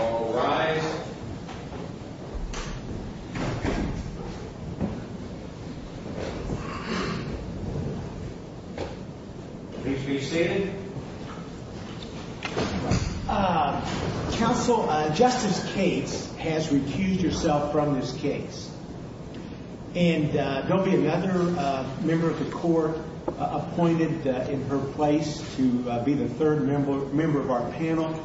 All rise. Please be seated. Counsel, Justice Cates has recused herself from this case. And there'll be another member of the court appointed in her place to be the third member of our panel.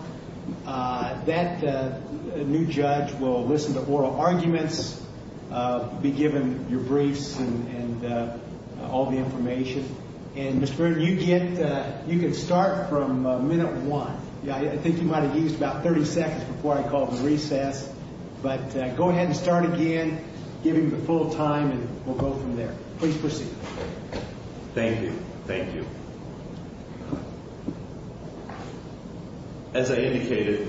That new judge will listen to oral arguments, be given your briefs and all the information. And, Mr. Brewer, you can start from minute one. I think you might have used about 30 seconds before I called the recess. But go ahead and start again, give him the full time, and we'll go from there. Please proceed. Thank you. Thank you. As I indicated,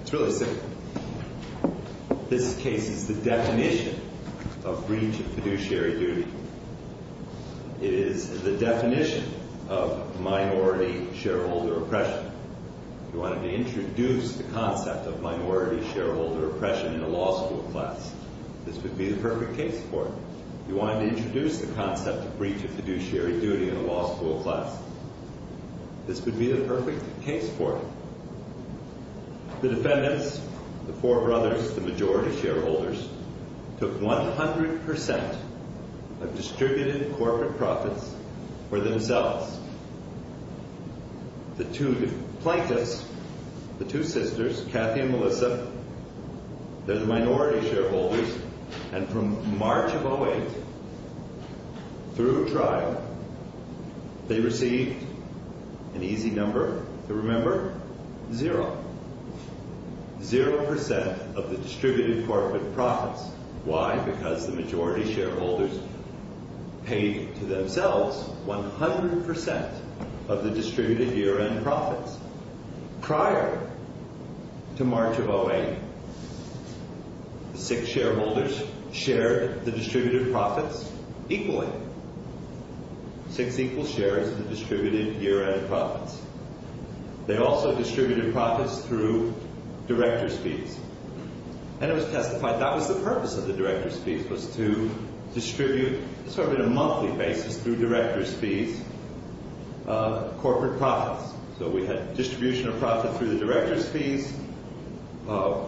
it's really simple. This case is the definition of breach of fiduciary duty. It is the definition of minority shareholder oppression. If you wanted to introduce the concept of minority shareholder oppression in a law school class, this would be the perfect case for it. If you wanted to introduce the concept of breach of fiduciary duty in a law school class, this would be the perfect case for it. The defendants, the four brothers, the majority shareholders, took 100% of distributed corporate profits for themselves. The two plaintiffs, the two sisters, Kathy and Melissa, they're the minority shareholders. And from March of 08, through trial, they received an easy number to remember, zero. Zero percent of the distributed corporate profits. Why? Because the majority shareholders paid to themselves 100% of the distributed year-end profits. Prior to March of 08, the six shareholders shared the distributed profits equally. Six equal shares of the distributed year-end profits. And it was testified that was the purpose of the director's fees, was to distribute, sort of in a monthly basis through director's fees, corporate profits. So we had distribution of profit through the director's fees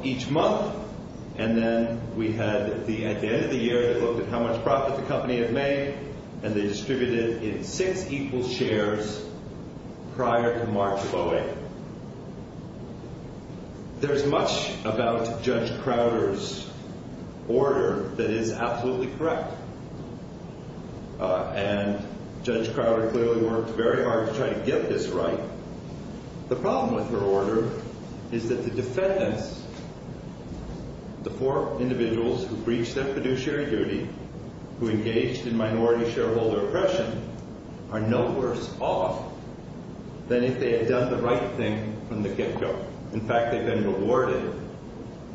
each month. And then we had, at the end of the year, they looked at how much profit the company had made, and they distributed it in six equal shares prior to March of 08. There's much about Judge Crowder's order that is absolutely correct. And Judge Crowder clearly worked very hard to try to get this right. The problem with her order is that the defendants, the four individuals who breached their fiduciary duty, who engaged in minority shareholder oppression, are no worse off than if they had done the right thing from the get-go. In fact, they've been rewarded.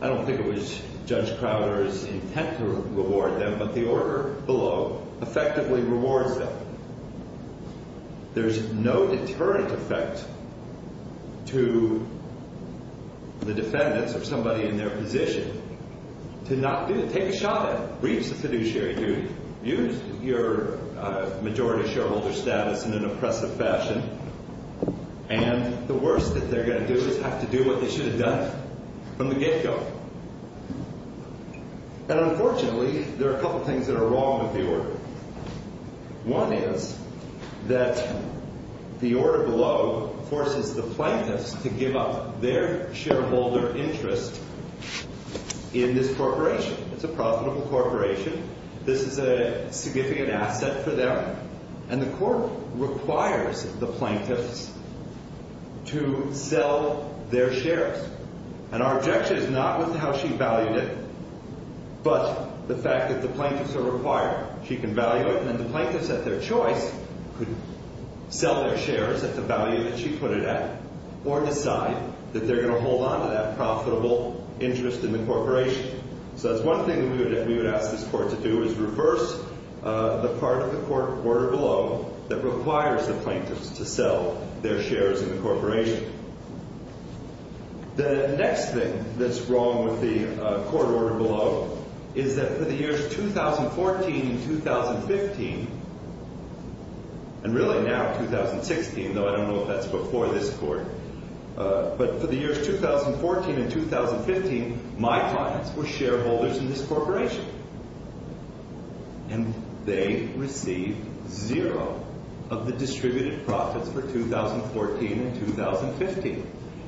I don't think it was Judge Crowder's intent to reward them, but the order below effectively rewards them. There's no deterrent effect to the defendants or somebody in their position to not do it. Take a shot at it. Breach the fiduciary duty. Use your majority shareholder status in an oppressive fashion. And the worst that they're going to do is have to do what they should have done from the get-go. And unfortunately, there are a couple things that are wrong with the order. One is that the order below forces the plaintiffs to give up their shareholder interest in this corporation. It's a profitable corporation. This is a significant asset for them. And the court requires the plaintiffs to sell their shares. And our objection is not with how she valued it, but the fact that the plaintiffs are required. She can value it, and then the plaintiffs at their choice could sell their shares at the value that she put it at or decide that they're going to hold on to that profitable interest in the corporation. So that's one thing that we would ask this court to do is reverse the part of the court order below that requires the plaintiffs to sell their shares in the corporation. The next thing that's wrong with the court order below is that for the years 2014 and 2015, and really now 2016, though I don't know if that's before this court, but for the years 2014 and 2015, my clients were shareholders in this corporation. And they received zero of the distributed profits for 2014 and 2015.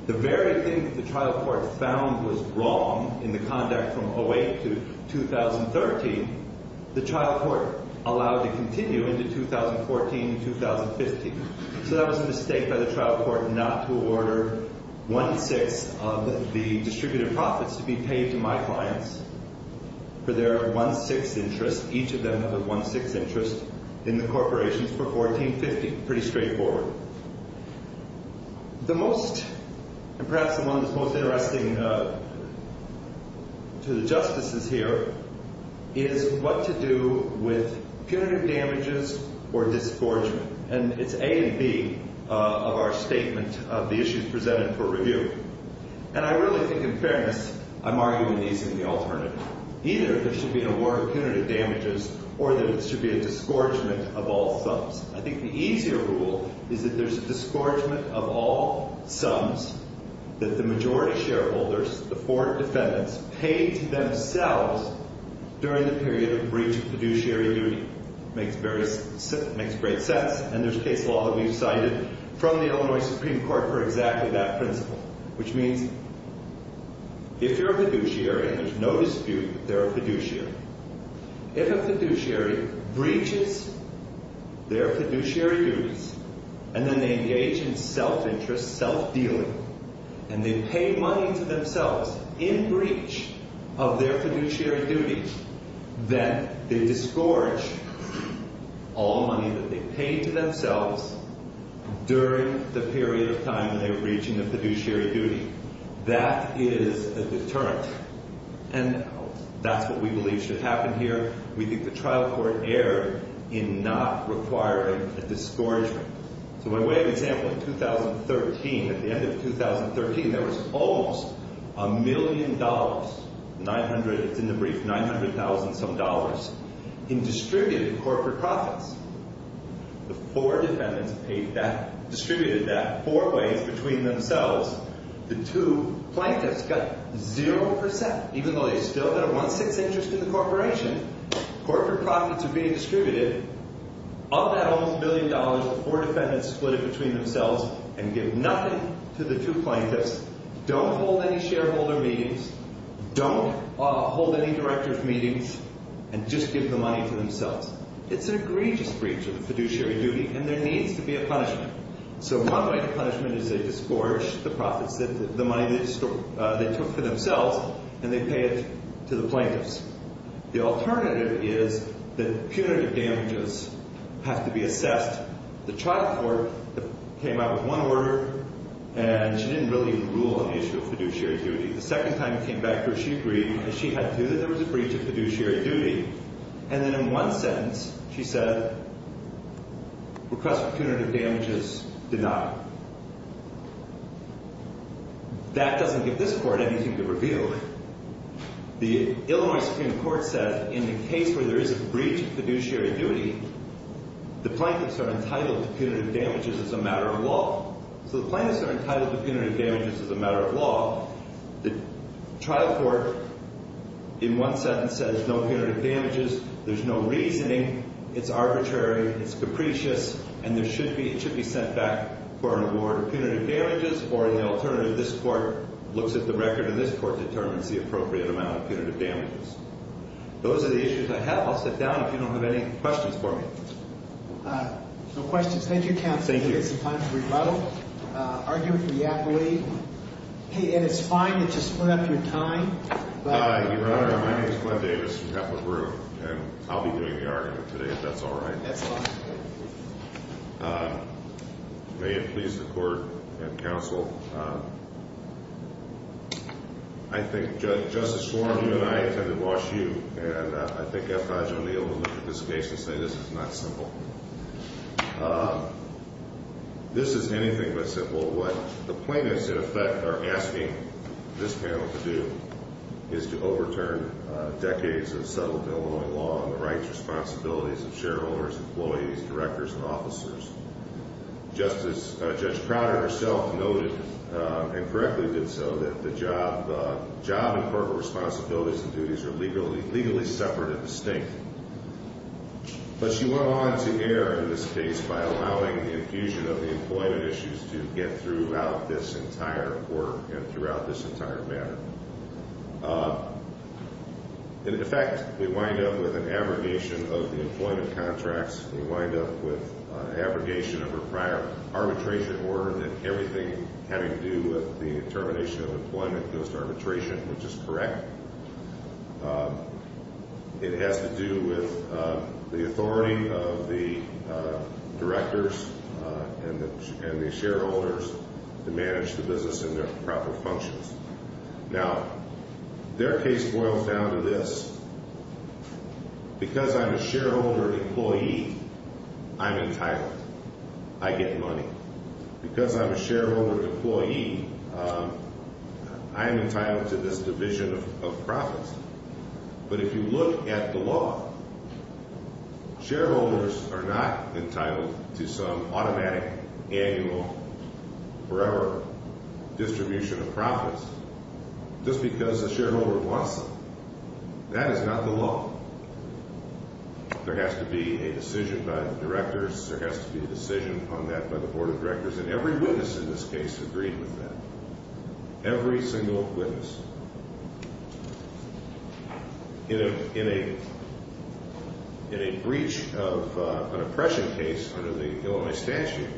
The very thing that the trial court found was wrong in the conduct from 08 to 2013, the trial court allowed to continue into 2014 and 2015. So that was a mistake by the trial court not to order one-sixth of the distributed profits to be paid to my clients for their one-sixth interest. Each of them have a one-sixth interest in the corporations for 1450. Pretty straightforward. The most, and perhaps the one that's most interesting to the justices here, is what to do with punitive damages or disgorgement. And it's A and B of our statement of the issues presented for review. And I really think in fairness I'm arguing these in the alternative. Either there should be a war of punitive damages or there should be a disgorgement of all sums. I think the easier rule is that there's a disgorgement of all sums that the majority shareholders, the four defendants, paid to themselves during the period of breach of fiduciary duty. Makes great sense. And there's case law that we've cited from the Illinois Supreme Court for exactly that principle. Which means if you're a fiduciary, and there's no dispute that they're a fiduciary, if a fiduciary breaches their fiduciary duties, and then they engage in self-interest, self-dealing, and they pay money to themselves in breach of their fiduciary duties, then they disgorge all money that they paid to themselves during the period of time they were breaching the fiduciary duty. That is a deterrent. And that's what we believe should happen here. We think the trial court erred in not requiring a disgorgement. So by way of example, in 2013, at the end of 2013, there was almost a million dollars, 900, it's in the brief, 900,000-some dollars, in distributed corporate profits. The four defendants paid that, distributed that four ways between themselves. The two plaintiffs got 0%, even though they still had a one-sixth interest in the corporation. Corporate profits are being distributed. Of that almost a billion dollars, the four defendants split it between themselves and give nothing to the two plaintiffs. Don't hold any shareholder meetings. Don't hold any director's meetings. And just give the money to themselves. It's an egregious breach of the fiduciary duty, and there needs to be a punishment. So one way to punishment is they disgorge the profits, the money they took for themselves, and they pay it to the plaintiffs. The alternative is that punitive damages have to be assessed. The trial court came out with one order, and she didn't really rule on the issue of fiduciary duty. The second time it came back to her, she agreed because she had to. There was a breach of fiduciary duty. And then in one sentence, she said, request for punitive damages denied. That doesn't give this court anything to reveal. The Illinois Supreme Court said in the case where there is a breach of fiduciary duty, the plaintiffs are entitled to punitive damages as a matter of law. So the plaintiffs are entitled to punitive damages as a matter of law. The trial court, in one sentence, says no punitive damages. There's no reasoning. It's arbitrary. It's capricious. And it should be sent back for an award of punitive damages. Or the alternative, this court looks at the record, and this court determines the appropriate amount of punitive damages. Those are the issues I have. I'll sit down if you don't have any questions for me. No questions. Thank you, counsel. Thank you. I'm going to give you some time to rebuttal. Argue if you have to leave. Hey, Ed, it's fine to just split up your time. Your Honor, my name is Glenn Davis from Kepler Group, and I'll be doing the argument today if that's all right. That's all right. May it please the court and counsel, I think Justice Warren, you and I attended Wash U, and I think I'll probably be able to look at this case and say this is not simple. This is anything but simple. What the plaintiffs, in effect, are asking this panel to do is to overturn decades of settled Illinois law on the rights, responsibilities of shareholders, employees, directors, and officers. Just as Judge Crowder herself noted and correctly did so, that the job and corporate responsibilities and duties are legally separate and distinct. But she went on to err in this case by allowing the infusion of the employment issues to get throughout this entire court and throughout this entire matter. In effect, we wind up with an abrogation of the employment contracts. We wind up with an abrogation of her prior arbitration order, and everything having to do with the termination of employment goes to arbitration, which is correct. It has to do with the authority of the directors and the shareholders to manage the business in their proper functions. Now, their case boils down to this. Because I'm a shareholder employee, I'm entitled. I get money. Because I'm a shareholder employee, I'm entitled to this division of profits. But if you look at the law, shareholders are not entitled to some automatic, annual, forever distribution of profits just because the shareholder wants them. That is not the law. There has to be a decision by the directors. There has to be a decision on that by the board of directors, and every witness in this case agreed with that. Every single witness. In a breach of an oppression case under the Illinois statute,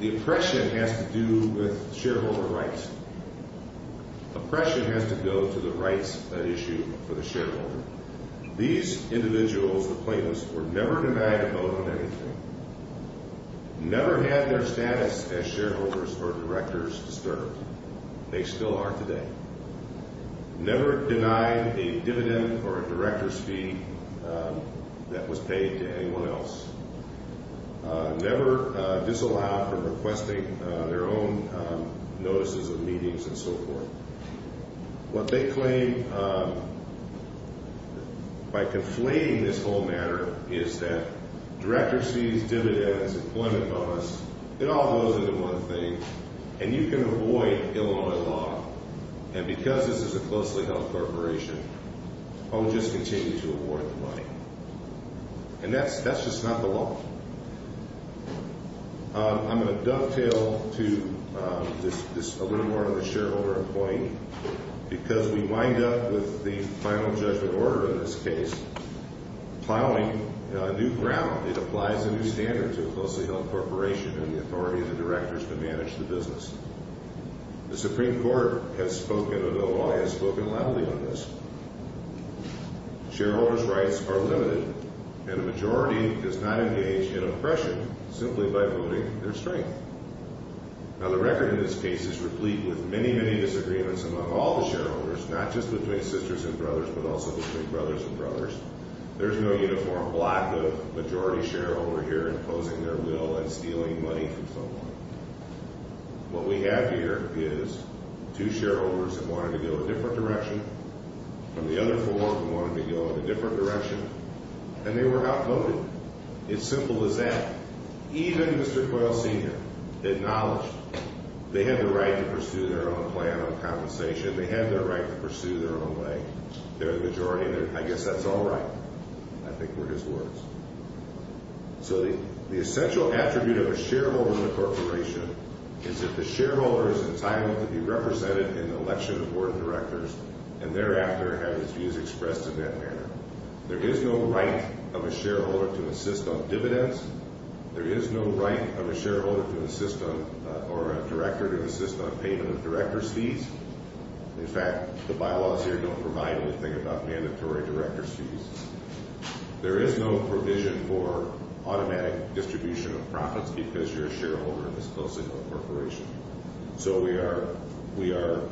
the oppression has to do with shareholder rights. Oppression has to go to the rights issue for the shareholder. These individuals, the plaintiffs, were never denied a vote on anything, never had their status as shareholders or directors disturbed. They still are today. Never denied a dividend or a director's fee that was paid to anyone else. Never disallowed from requesting their own notices of meetings and so forth. What they claim by conflating this whole matter is that director's fees, dividends, employment bonus, it all goes into one thing. And you can avoid Illinois law. And because this is a closely held corporation, I will just continue to award the money. And that's just not the law. I'm going to dovetail to this a little more of a shareholder point, because we wind up with the final judgment order in this case. Finally, a new ground, it applies a new standard to a closely held corporation and the authority of the directors to manage the business. The Supreme Court has spoken, Illinois has spoken loudly on this. Shareholders' rights are limited, and a majority does not engage in oppression simply by voting their strength. Now, the record in this case is replete with many, many disagreements among all the shareholders, not just between sisters and brothers, but also between brothers and brothers. There's no uniform block of majority shareholder here imposing their will and stealing money from someone. What we have here is two shareholders who wanted to go a different direction, and the other four who wanted to go in a different direction, and they were outvoted. It's simple as that. Even Mr. Coyle Sr. acknowledged they had the right to pursue their own plan of compensation. They had the right to pursue their own way. They're the majority, and I guess that's all right, I think, were his words. So the essential attribute of a shareholder in a corporation is that the shareholder is entitled to be represented in the election of board of directors and thereafter have his views expressed in that manner. There is no right of a shareholder to insist on dividends. There is no right of a shareholder to insist on or a director to insist on payment of director's fees. In fact, the bylaws here don't provide anything about mandatory director's fees. There is no provision for automatic distribution of profits because you're a shareholder in this close-knit corporation. So we are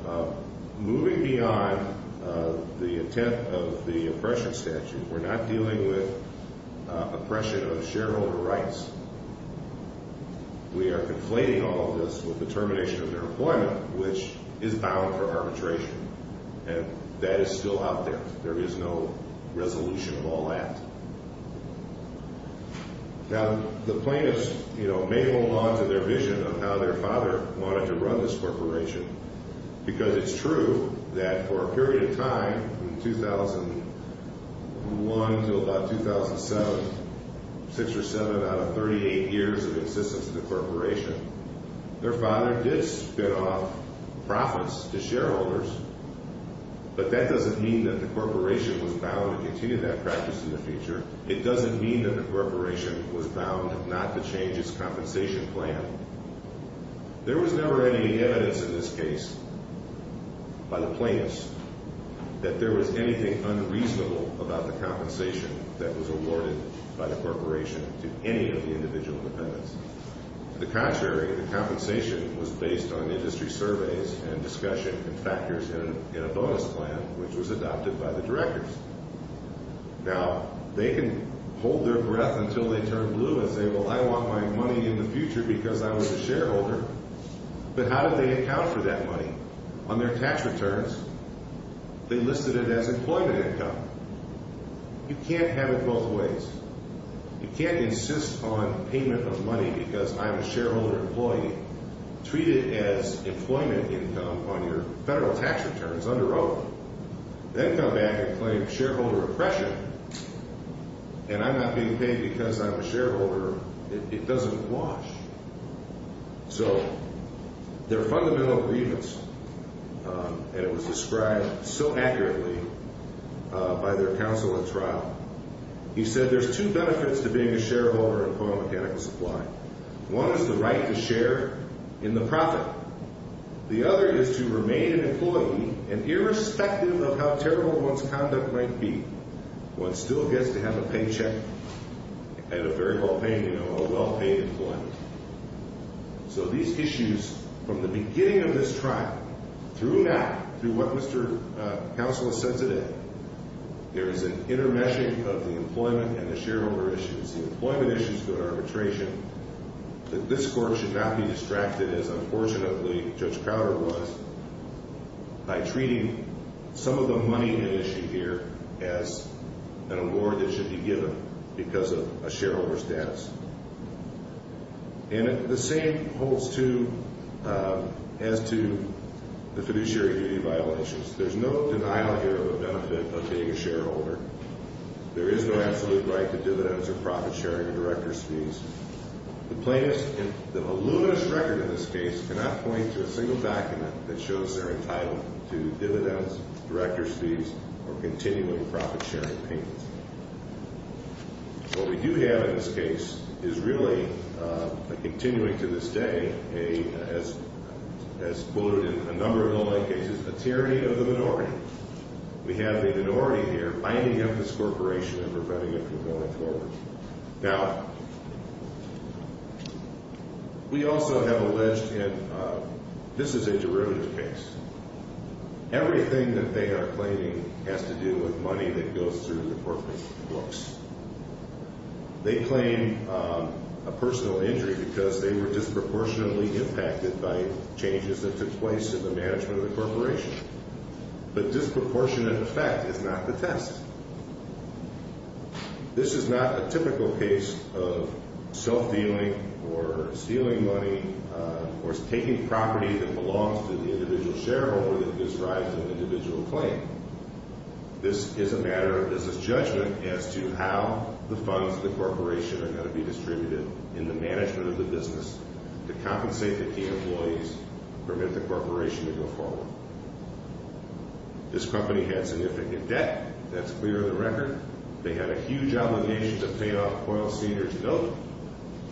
moving beyond the intent of the oppression statute. We're not dealing with oppression of shareholder rights. We are conflating all of this with the termination of their employment, which is bound for arbitration, and that is still out there. There is no resolution of all that. Now, the plaintiffs may hold on to their vision of how their father wanted to run this corporation because it's true that for a period of time, from 2001 to about 2007, six or seven out of 38 years of existence of the corporation, their father did spin off profits to shareholders. But that doesn't mean that the corporation was bound to continue that practice in the future. It doesn't mean that the corporation was bound not to change its compensation plan. There was never any evidence in this case by the plaintiffs that there was anything unreasonable about the compensation that was awarded by the corporation to any of the individual dependents. To the contrary, the compensation was based on industry surveys and discussion and factors in a bonus plan, which was adopted by the directors. Now, they can hold their breath until they turn blue and say, well, I want my money in the future because I was a shareholder. But how did they account for that money? On their tax returns, they listed it as employment income. You can't have it both ways. You can't insist on payment of money because I'm a shareholder employee. Treat it as employment income on your federal tax returns, under oath. Then come back and claim shareholder oppression, and I'm not being paid because I'm a shareholder. It doesn't wash. So their fundamental grievance, and it was described so accurately by their counsel at trial, he said there's two benefits to being a shareholder in a mechanical supply. One is the right to share in the profit. The other is to remain an employee, and irrespective of how terrible one's conduct might be, one still gets to have a paycheck and a very well-paid, you know, a well-paid employment. So these issues, from the beginning of this trial through now, through what Mr. Counsel has said today, there is an intermeshing of the employment and the shareholder issues. The employment issues go to arbitration. This court should not be distracted, as unfortunately Judge Crowder was, by treating some of the money at issue here as an award that should be given because of a shareholder status. And the same holds, too, as to the fiduciary duty violations. There's no denial here of the benefit of being a shareholder. There is no absolute right to dividends or profit-sharing or director's fees. The plaintiff's and the voluminous record in this case cannot point to a single document that shows they're entitled to dividends, director's fees, or continuing profit-sharing payments. What we do have in this case is really a continuing to this day, as quoted in a number of other cases, a tyranny of the minority. We have the minority here lining up this corporation and preventing it from going forward. Now, we also have alleged in this is a derivative case, everything that they are claiming has to do with money that goes through the corporate books. They claim a personal injury because they were disproportionately impacted by changes that took place in the management of the corporation. But disproportionate effect is not the test. This is not a typical case of self-dealing or stealing money or taking property that belongs to the individual shareholder that describes an individual claim. This is a matter of business judgment as to how the funds of the corporation are going to be distributed in the management of the business to compensate the key employees, permit the corporation to go forward. This company had significant debt. That's clear in the record. They had a huge obligation to pay off Coyle Sr.'s note,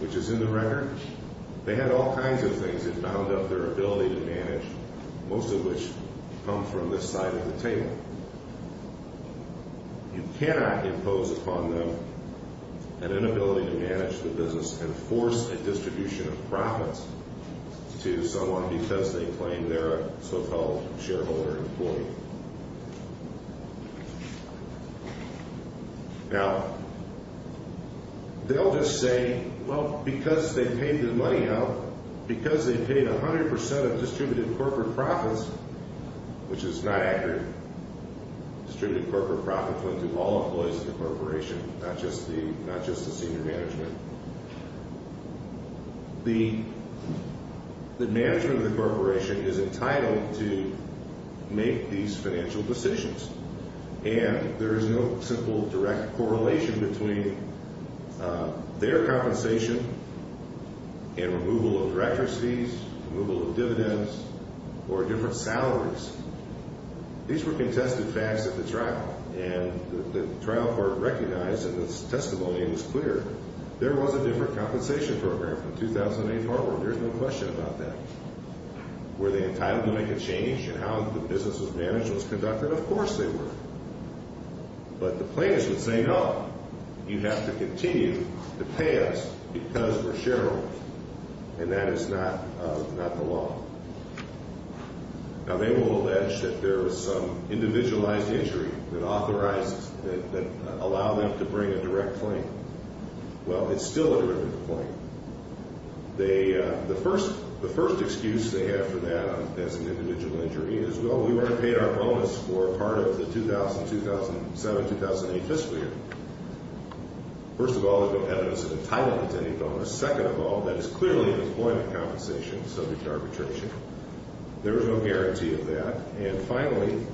which is in the record. They had all kinds of things that bound up their ability to manage, most of which come from this side of the table. You cannot impose upon them an inability to manage the business and force a distribution of profits to someone because they claim they're a so-called shareholder employee. Now, they'll just say, well, because they paid the money out, because they paid 100% of distributed corporate profits, which is not accurate, distributed corporate profits went to all employees of the corporation, not just the senior management. The management of the corporation is entitled to make these financial decisions, and there is no simple direct correlation between their compensation and removal of direct receipts, removal of dividends, or different salaries. These were contested facts at the trial, and the trial court recognized, and the testimony was clear, there was a different compensation program from 2008 forward. There's no question about that. Were they entitled to make a change in how the business was managed and was conducted? Of course they were. But the plaintiffs would say, no, you have to continue to pay us because we're shareholders, and that is not the law. Now, they will allege that there was some individualized injury that authorized, that allowed them to bring a direct claim. Well, it's still a derivative claim. The first excuse they have for that as an individual injury is, well, we weren't paid our bonus for part of the 2000, 2007, 2008 fiscal year. First of all, they don't have us entitled to any bonus. Second of all, that is clearly an employment compensation subject to arbitration. There is no guarantee of that. And finally,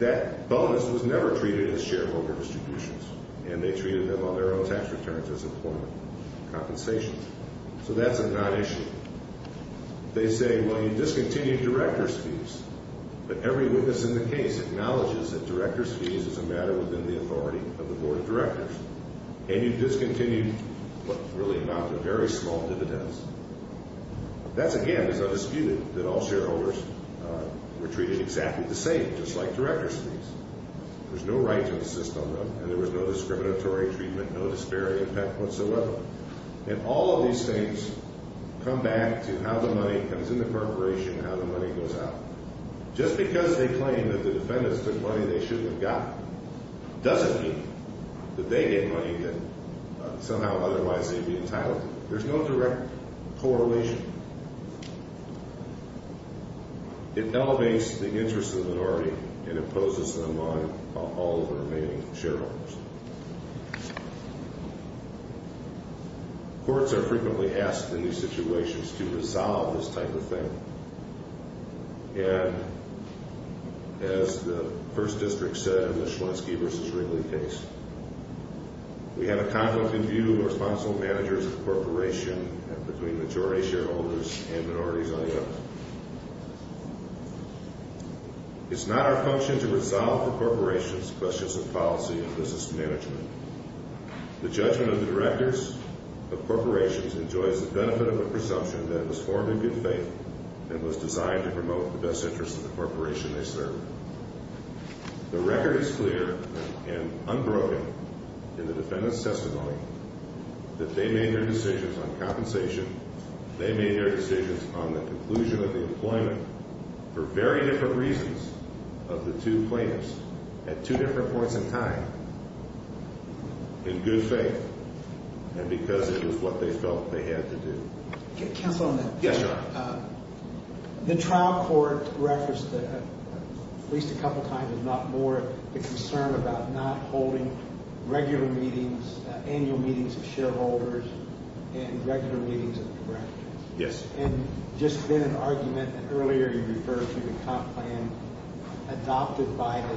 that bonus was never treated as shareholder distributions, and they treated them on their own tax returns as employment compensation. So that's a non-issue. They say, well, you discontinued director's fees, but every witness in the case acknowledges that director's fees is a matter within the authority of the board of directors, and you discontinued what really amounted to very small dividends. That, again, is undisputed, that all shareholders were treated exactly the same, just like director's fees. There's no right to insist on them, and there was no discriminatory treatment, no disparity of that whatsoever. And all of these things come back to how the money comes in the corporation and how the money goes out. Just because they claim that the defendants took money they shouldn't have gotten doesn't mean that they get money that somehow otherwise they'd be entitled to. There's no direct correlation. It elevates the interests of the minority and imposes them on all of the remaining shareholders. Courts are frequently asked in these situations to resolve this type of thing. And as the first district said in the Schlensky v. Wrigley case, we have a conflict of view of responsible managers of the corporation between majority shareholders and minorities on the other. It's not our function to resolve the corporation's questions of policy and business management. The judgment of the directors of corporations enjoys the benefit of a presumption that it was formed in good faith and was designed to promote the best interests of the corporation they serve. The record is clear and unbroken in the defendant's testimony that they made their decisions on compensation, they made their decisions on the conclusion of the employment, for very different reasons of the two plaintiffs at two different points in time, in good faith, and because it was what they felt they had to do. Counsel on that. Yes, sir. The trial court referenced at least a couple times if not more the concern about not holding regular meetings, annual meetings of shareholders, and regular meetings of the directors. Yes. And just then an argument that earlier you referred to the comp plan adopted by a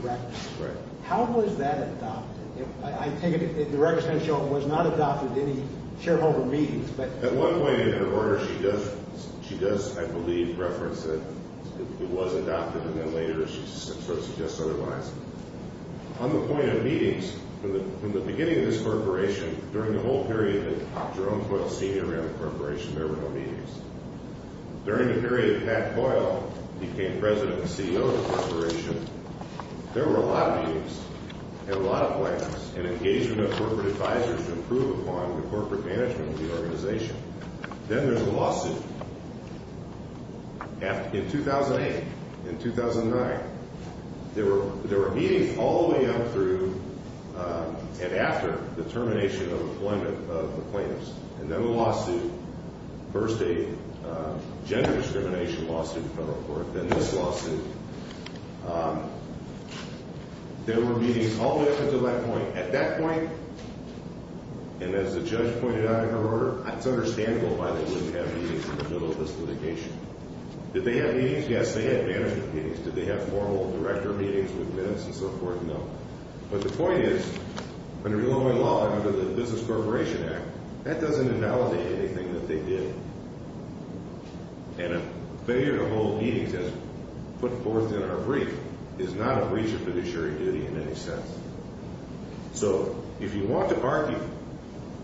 director. Right. How was that adopted? I take it the director was not adopted at any shareholder meetings, but... At one point in her order she does, I believe, reference that it was adopted, and then later she sort of suggests otherwise. On the point of meetings, from the beginning of this corporation, during the whole period that Jerome Coyle senior ran the corporation, there were no meetings. During the period that Pat Coyle became president and CEO of the corporation, there were a lot of meetings and a lot of plans and engagement of corporate advisors to improve upon the corporate management of the organization. Then there's a lawsuit. In 2008, in 2009, there were meetings all the way up through and after the termination of employment of the plaintiffs. And then the lawsuit, first a gender discrimination lawsuit in federal court, then this lawsuit. There were meetings all the way up until that point. At that point, and as the judge pointed out in her order, it's understandable why they wouldn't have meetings in the middle of this litigation. Did they have meetings? Yes, they had management meetings. Did they have formal director meetings with minutes and so forth? No. But the point is, under real employment law and under the Business Corporation Act, that doesn't invalidate anything that they did. And a failure to hold meetings, as put forth in our brief, is not a breach of fiduciary duty in any sense. So if you want to argue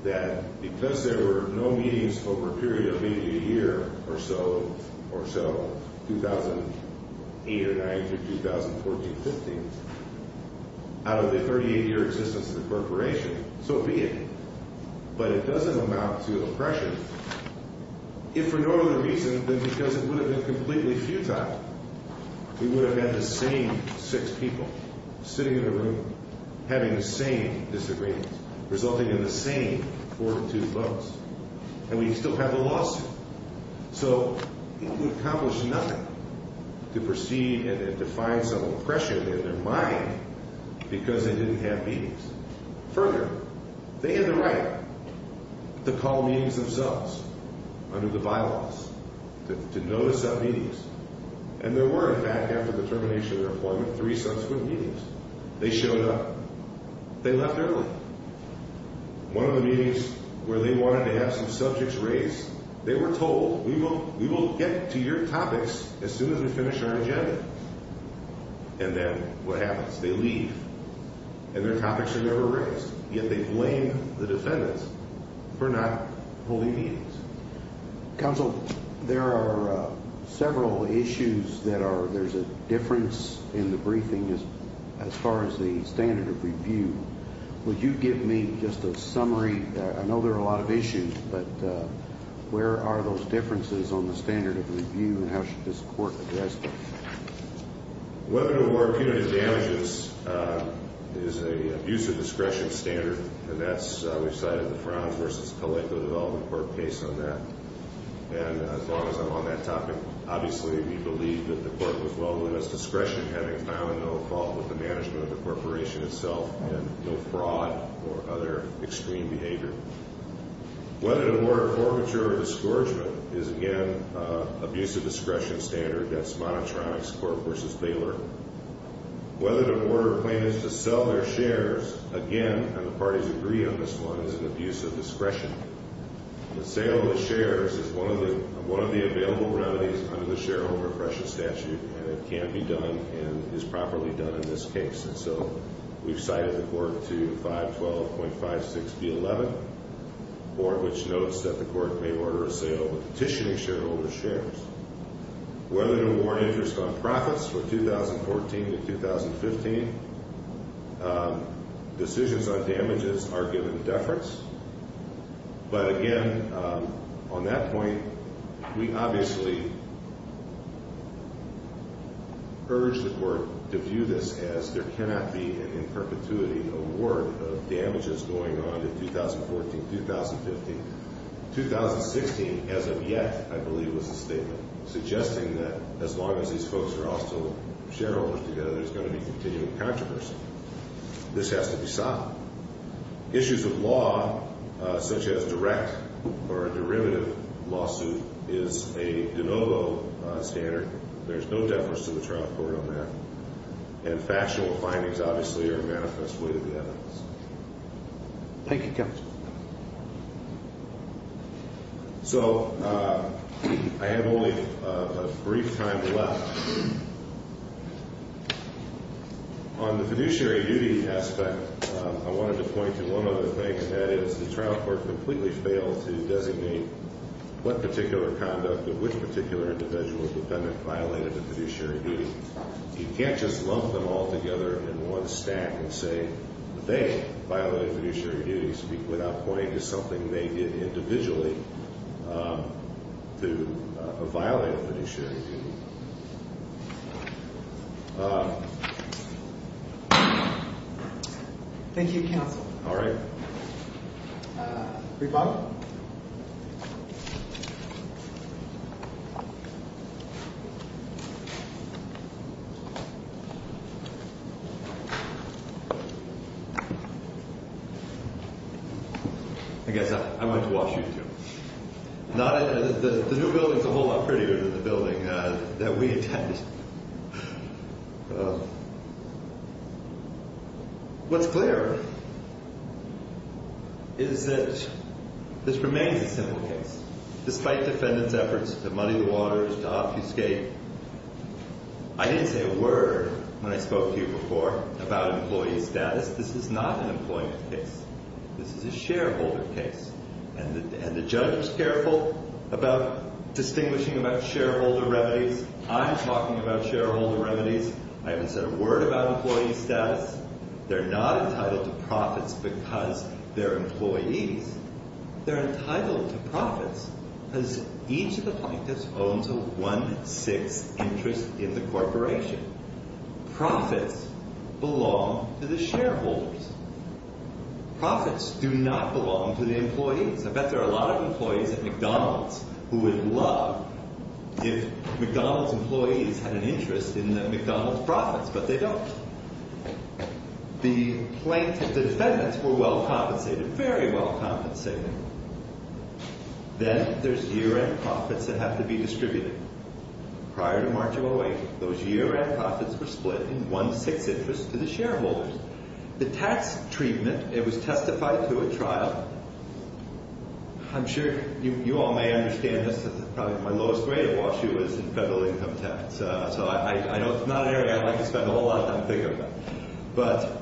that because there were no meetings over a period of maybe a year or so, 2008 or 9 through 2014, 15, out of the 38-year existence of the corporation, so be it. But it doesn't amount to oppression. If for no other reason than because it would have been completely futile. We would have had the same six people sitting in a room, having the same disagreements, resulting in the same four or two votes. And we'd still have the lawsuit. So it would accomplish nothing to proceed and to find some oppression in their mind because they didn't have meetings. Further, they had the right to call meetings themselves under the bylaws, to notice sub-meetings. And there were, in fact, after the termination of their employment, three subsequent meetings. They showed up. They left early. One of the meetings where they wanted to have some subjects raised, they were told, we will get to your topics as soon as we finish our agenda. And then what happens? They leave. And their topics are never raised. Yet they blame the defendants for not holding meetings. Counsel, there are several issues that are, there's a difference in the briefing as far as the standard of review. Would you give me just a summary? I know there are a lot of issues, but where are those differences on the standard of review and how should this court address them? Whether or not punitive damages is an abuse of discretion standard. And that's, we've cited the Frowns v. Colectivo Development Court case on that. And as long as I'm on that topic, obviously we believe that the court was well within its discretion having found no fault with the management of the corporation itself and no fraud or other extreme behavior. Whether to order forfeiture or disgorgement is, again, an abuse of discretion standard. That's Monotronics Court v. Baylor. Whether to order plaintiffs to sell their shares, again, and the parties agree on this one, is an abuse of discretion. The sale of the shares is one of the available remedies under the shareholder oppression statute, and it can be done and is properly done in this case. And so we've cited the court to 512.56 v. 11, which notes that the court may order a sale of a petitioning shareholder's shares. Whether to award interest on profits for 2014 to 2015, decisions on damages are given deference. But again, on that point, we obviously urge the court to view this as there cannot be, in perpetuity, an award of damages going on to 2014, 2015. 2016, as of yet, I believe, was a statement suggesting that as long as these folks are all still shareholders together, there's going to be continuing controversy. This has to be solved. Issues of law, such as direct or a derivative lawsuit, is a de novo standard. There's no deference to the trial court on that. And factional findings, obviously, are manifest way to the evidence. Thank you, counsel. So I have only a brief time left. On the fiduciary duty aspect, I wanted to point to one other thing, and that is the trial court completely failed to designate what particular conduct of which particular individual defendant violated the fiduciary duty. You can't just lump them all together in one stack and say they violated fiduciary duties without pointing to something they did individually to violate fiduciary duty. Thank you. Thank you, counsel. All right. Rebut. I guess I'm going to watch you two. The new building is a whole lot prettier than the building that we attended. What's clear is that this remains a simple case. Despite defendants' efforts to muddy the waters, to obfuscate, I didn't say a word when I spoke to you before about employee status. This is not an employment case. This is a shareholder case. And the judge was careful about distinguishing about shareholder remedies. I'm talking about shareholder remedies. I haven't said a word about employee status. They're not entitled to profits because they're employees. They're entitled to profits because each of the plaintiffs owns a one-sixth interest in the corporation. Profits belong to the shareholders. Profits do not belong to the employees. I bet there are a lot of employees at McDonald's who would love if McDonald's employees had an interest in the McDonald's profits, but they don't. The plaintiffs, the defendants, were well compensated, very well compensated. Then there's year-end profits that have to be distributed. Prior to March of 08, those year-end profits were split in one-sixth interest to the shareholders. The tax treatment, it was testified to at trial. I'm sure you all may understand this. Probably my lowest grade at Wash U was in federal income tax. So I know it's not an area I'd like to spend a whole lot of time thinking about. But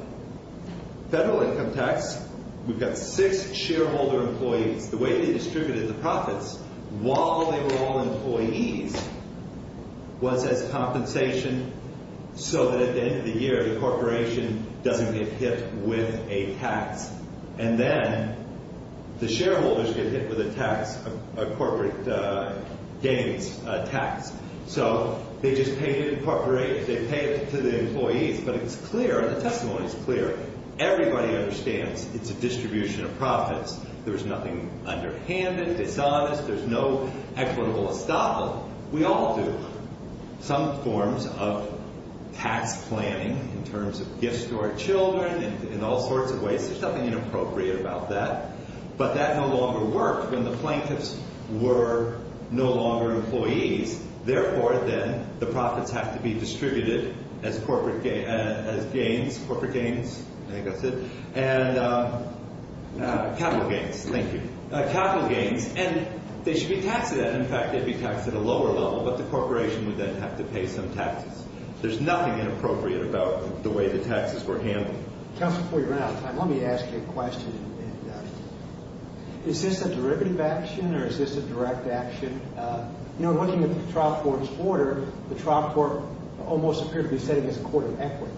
federal income tax, we've got six shareholder employees. The way they distributed the profits while they were all employees was as compensation so that at the end of the year, the corporation doesn't get hit with a tax. And then the shareholders get hit with a corporate gains tax. So they just pay it to the employees. But it's clear, the testimony is clear. Everybody understands it's a distribution of profits. There's nothing underhanded, dishonest. There's no equitable estoppel. We all do. There are some forms of tax planning in terms of gifts to our children and in all sorts of ways. There's nothing inappropriate about that. But that no longer worked when the plaintiffs were no longer employees. Therefore, then, the profits have to be distributed as corporate gains. I think that's it. And capital gains. Thank you. Capital gains. And they should be taxed. In fact, they'd be taxed at a lower level. But the corporation would then have to pay some taxes. There's nothing inappropriate about the way the taxes were handled. Counsel, before you run out of time, let me ask you a question. Is this a derivative action or is this a direct action? You know, looking at the trial court's order, the trial court almost appeared to be setting us a court of equity.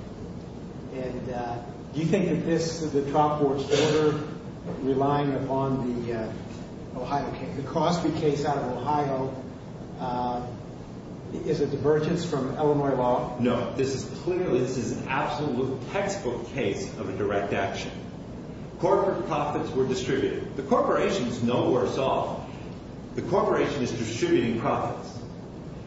And do you think that this, the trial court's order, relying upon the Crosby case out of Ohio, is a divergence from Illinois law? No. This is clearly, this is an absolute textbook case of a direct action. Corporate profits were distributed. The corporation is no worse off. The corporation is distributing profits.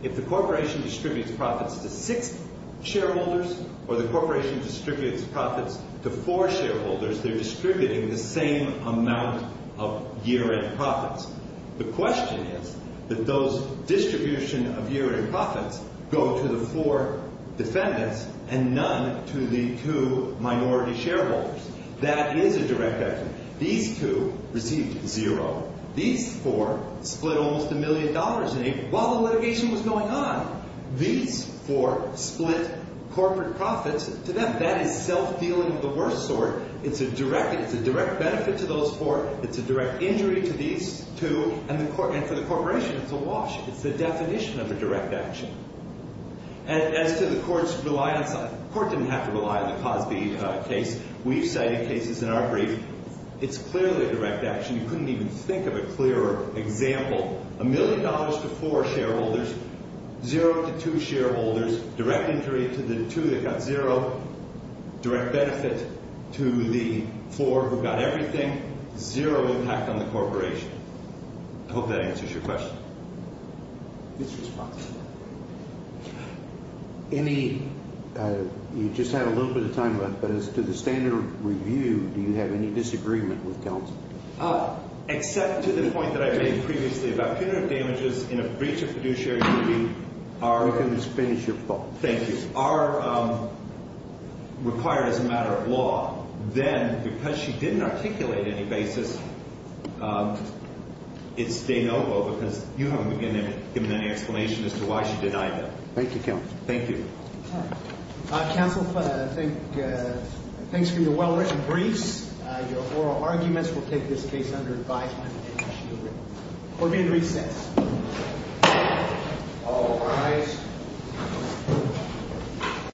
If the corporation distributes profits to six shareholders or the corporation distributes profits to four shareholders, they're distributing the same amount of year-end profits. The question is that those distribution of year-end profits go to the four defendants and none to the two minority shareholders. That is a direct action. These two received zero. These four split almost a million dollars in aid while the litigation was going on. These four split corporate profits to them. That is self-dealing of the worst sort. It's a direct benefit to those four. It's a direct injury to these two. And for the corporation, it's a wash. It's the definition of a direct action. As to the court's reliance on, the court didn't have to rely on the Crosby case. We've cited cases in our brief. It's clearly a direct action. You couldn't even think of a clearer example. A million dollars to four shareholders, zero to two shareholders, direct injury to the two that got zero, direct benefit to the four who got everything, zero impact on the corporation. I hope that answers your question. It's responsible. You just had a little bit of time left, but as to the standard review, do you have any disagreement with counsel? Except to the point that I made previously about punitive damages in a breach of fiduciary duty. We can just finish your point. Thank you. If they are required as a matter of law, then because she didn't articulate any basis, it's de novo, because you haven't given any explanation as to why she denied them. Thank you, counsel. Thank you. Counsel, thanks for your well-written briefs. Your oral arguments will take this case under advisement. We're going to recess. All rise.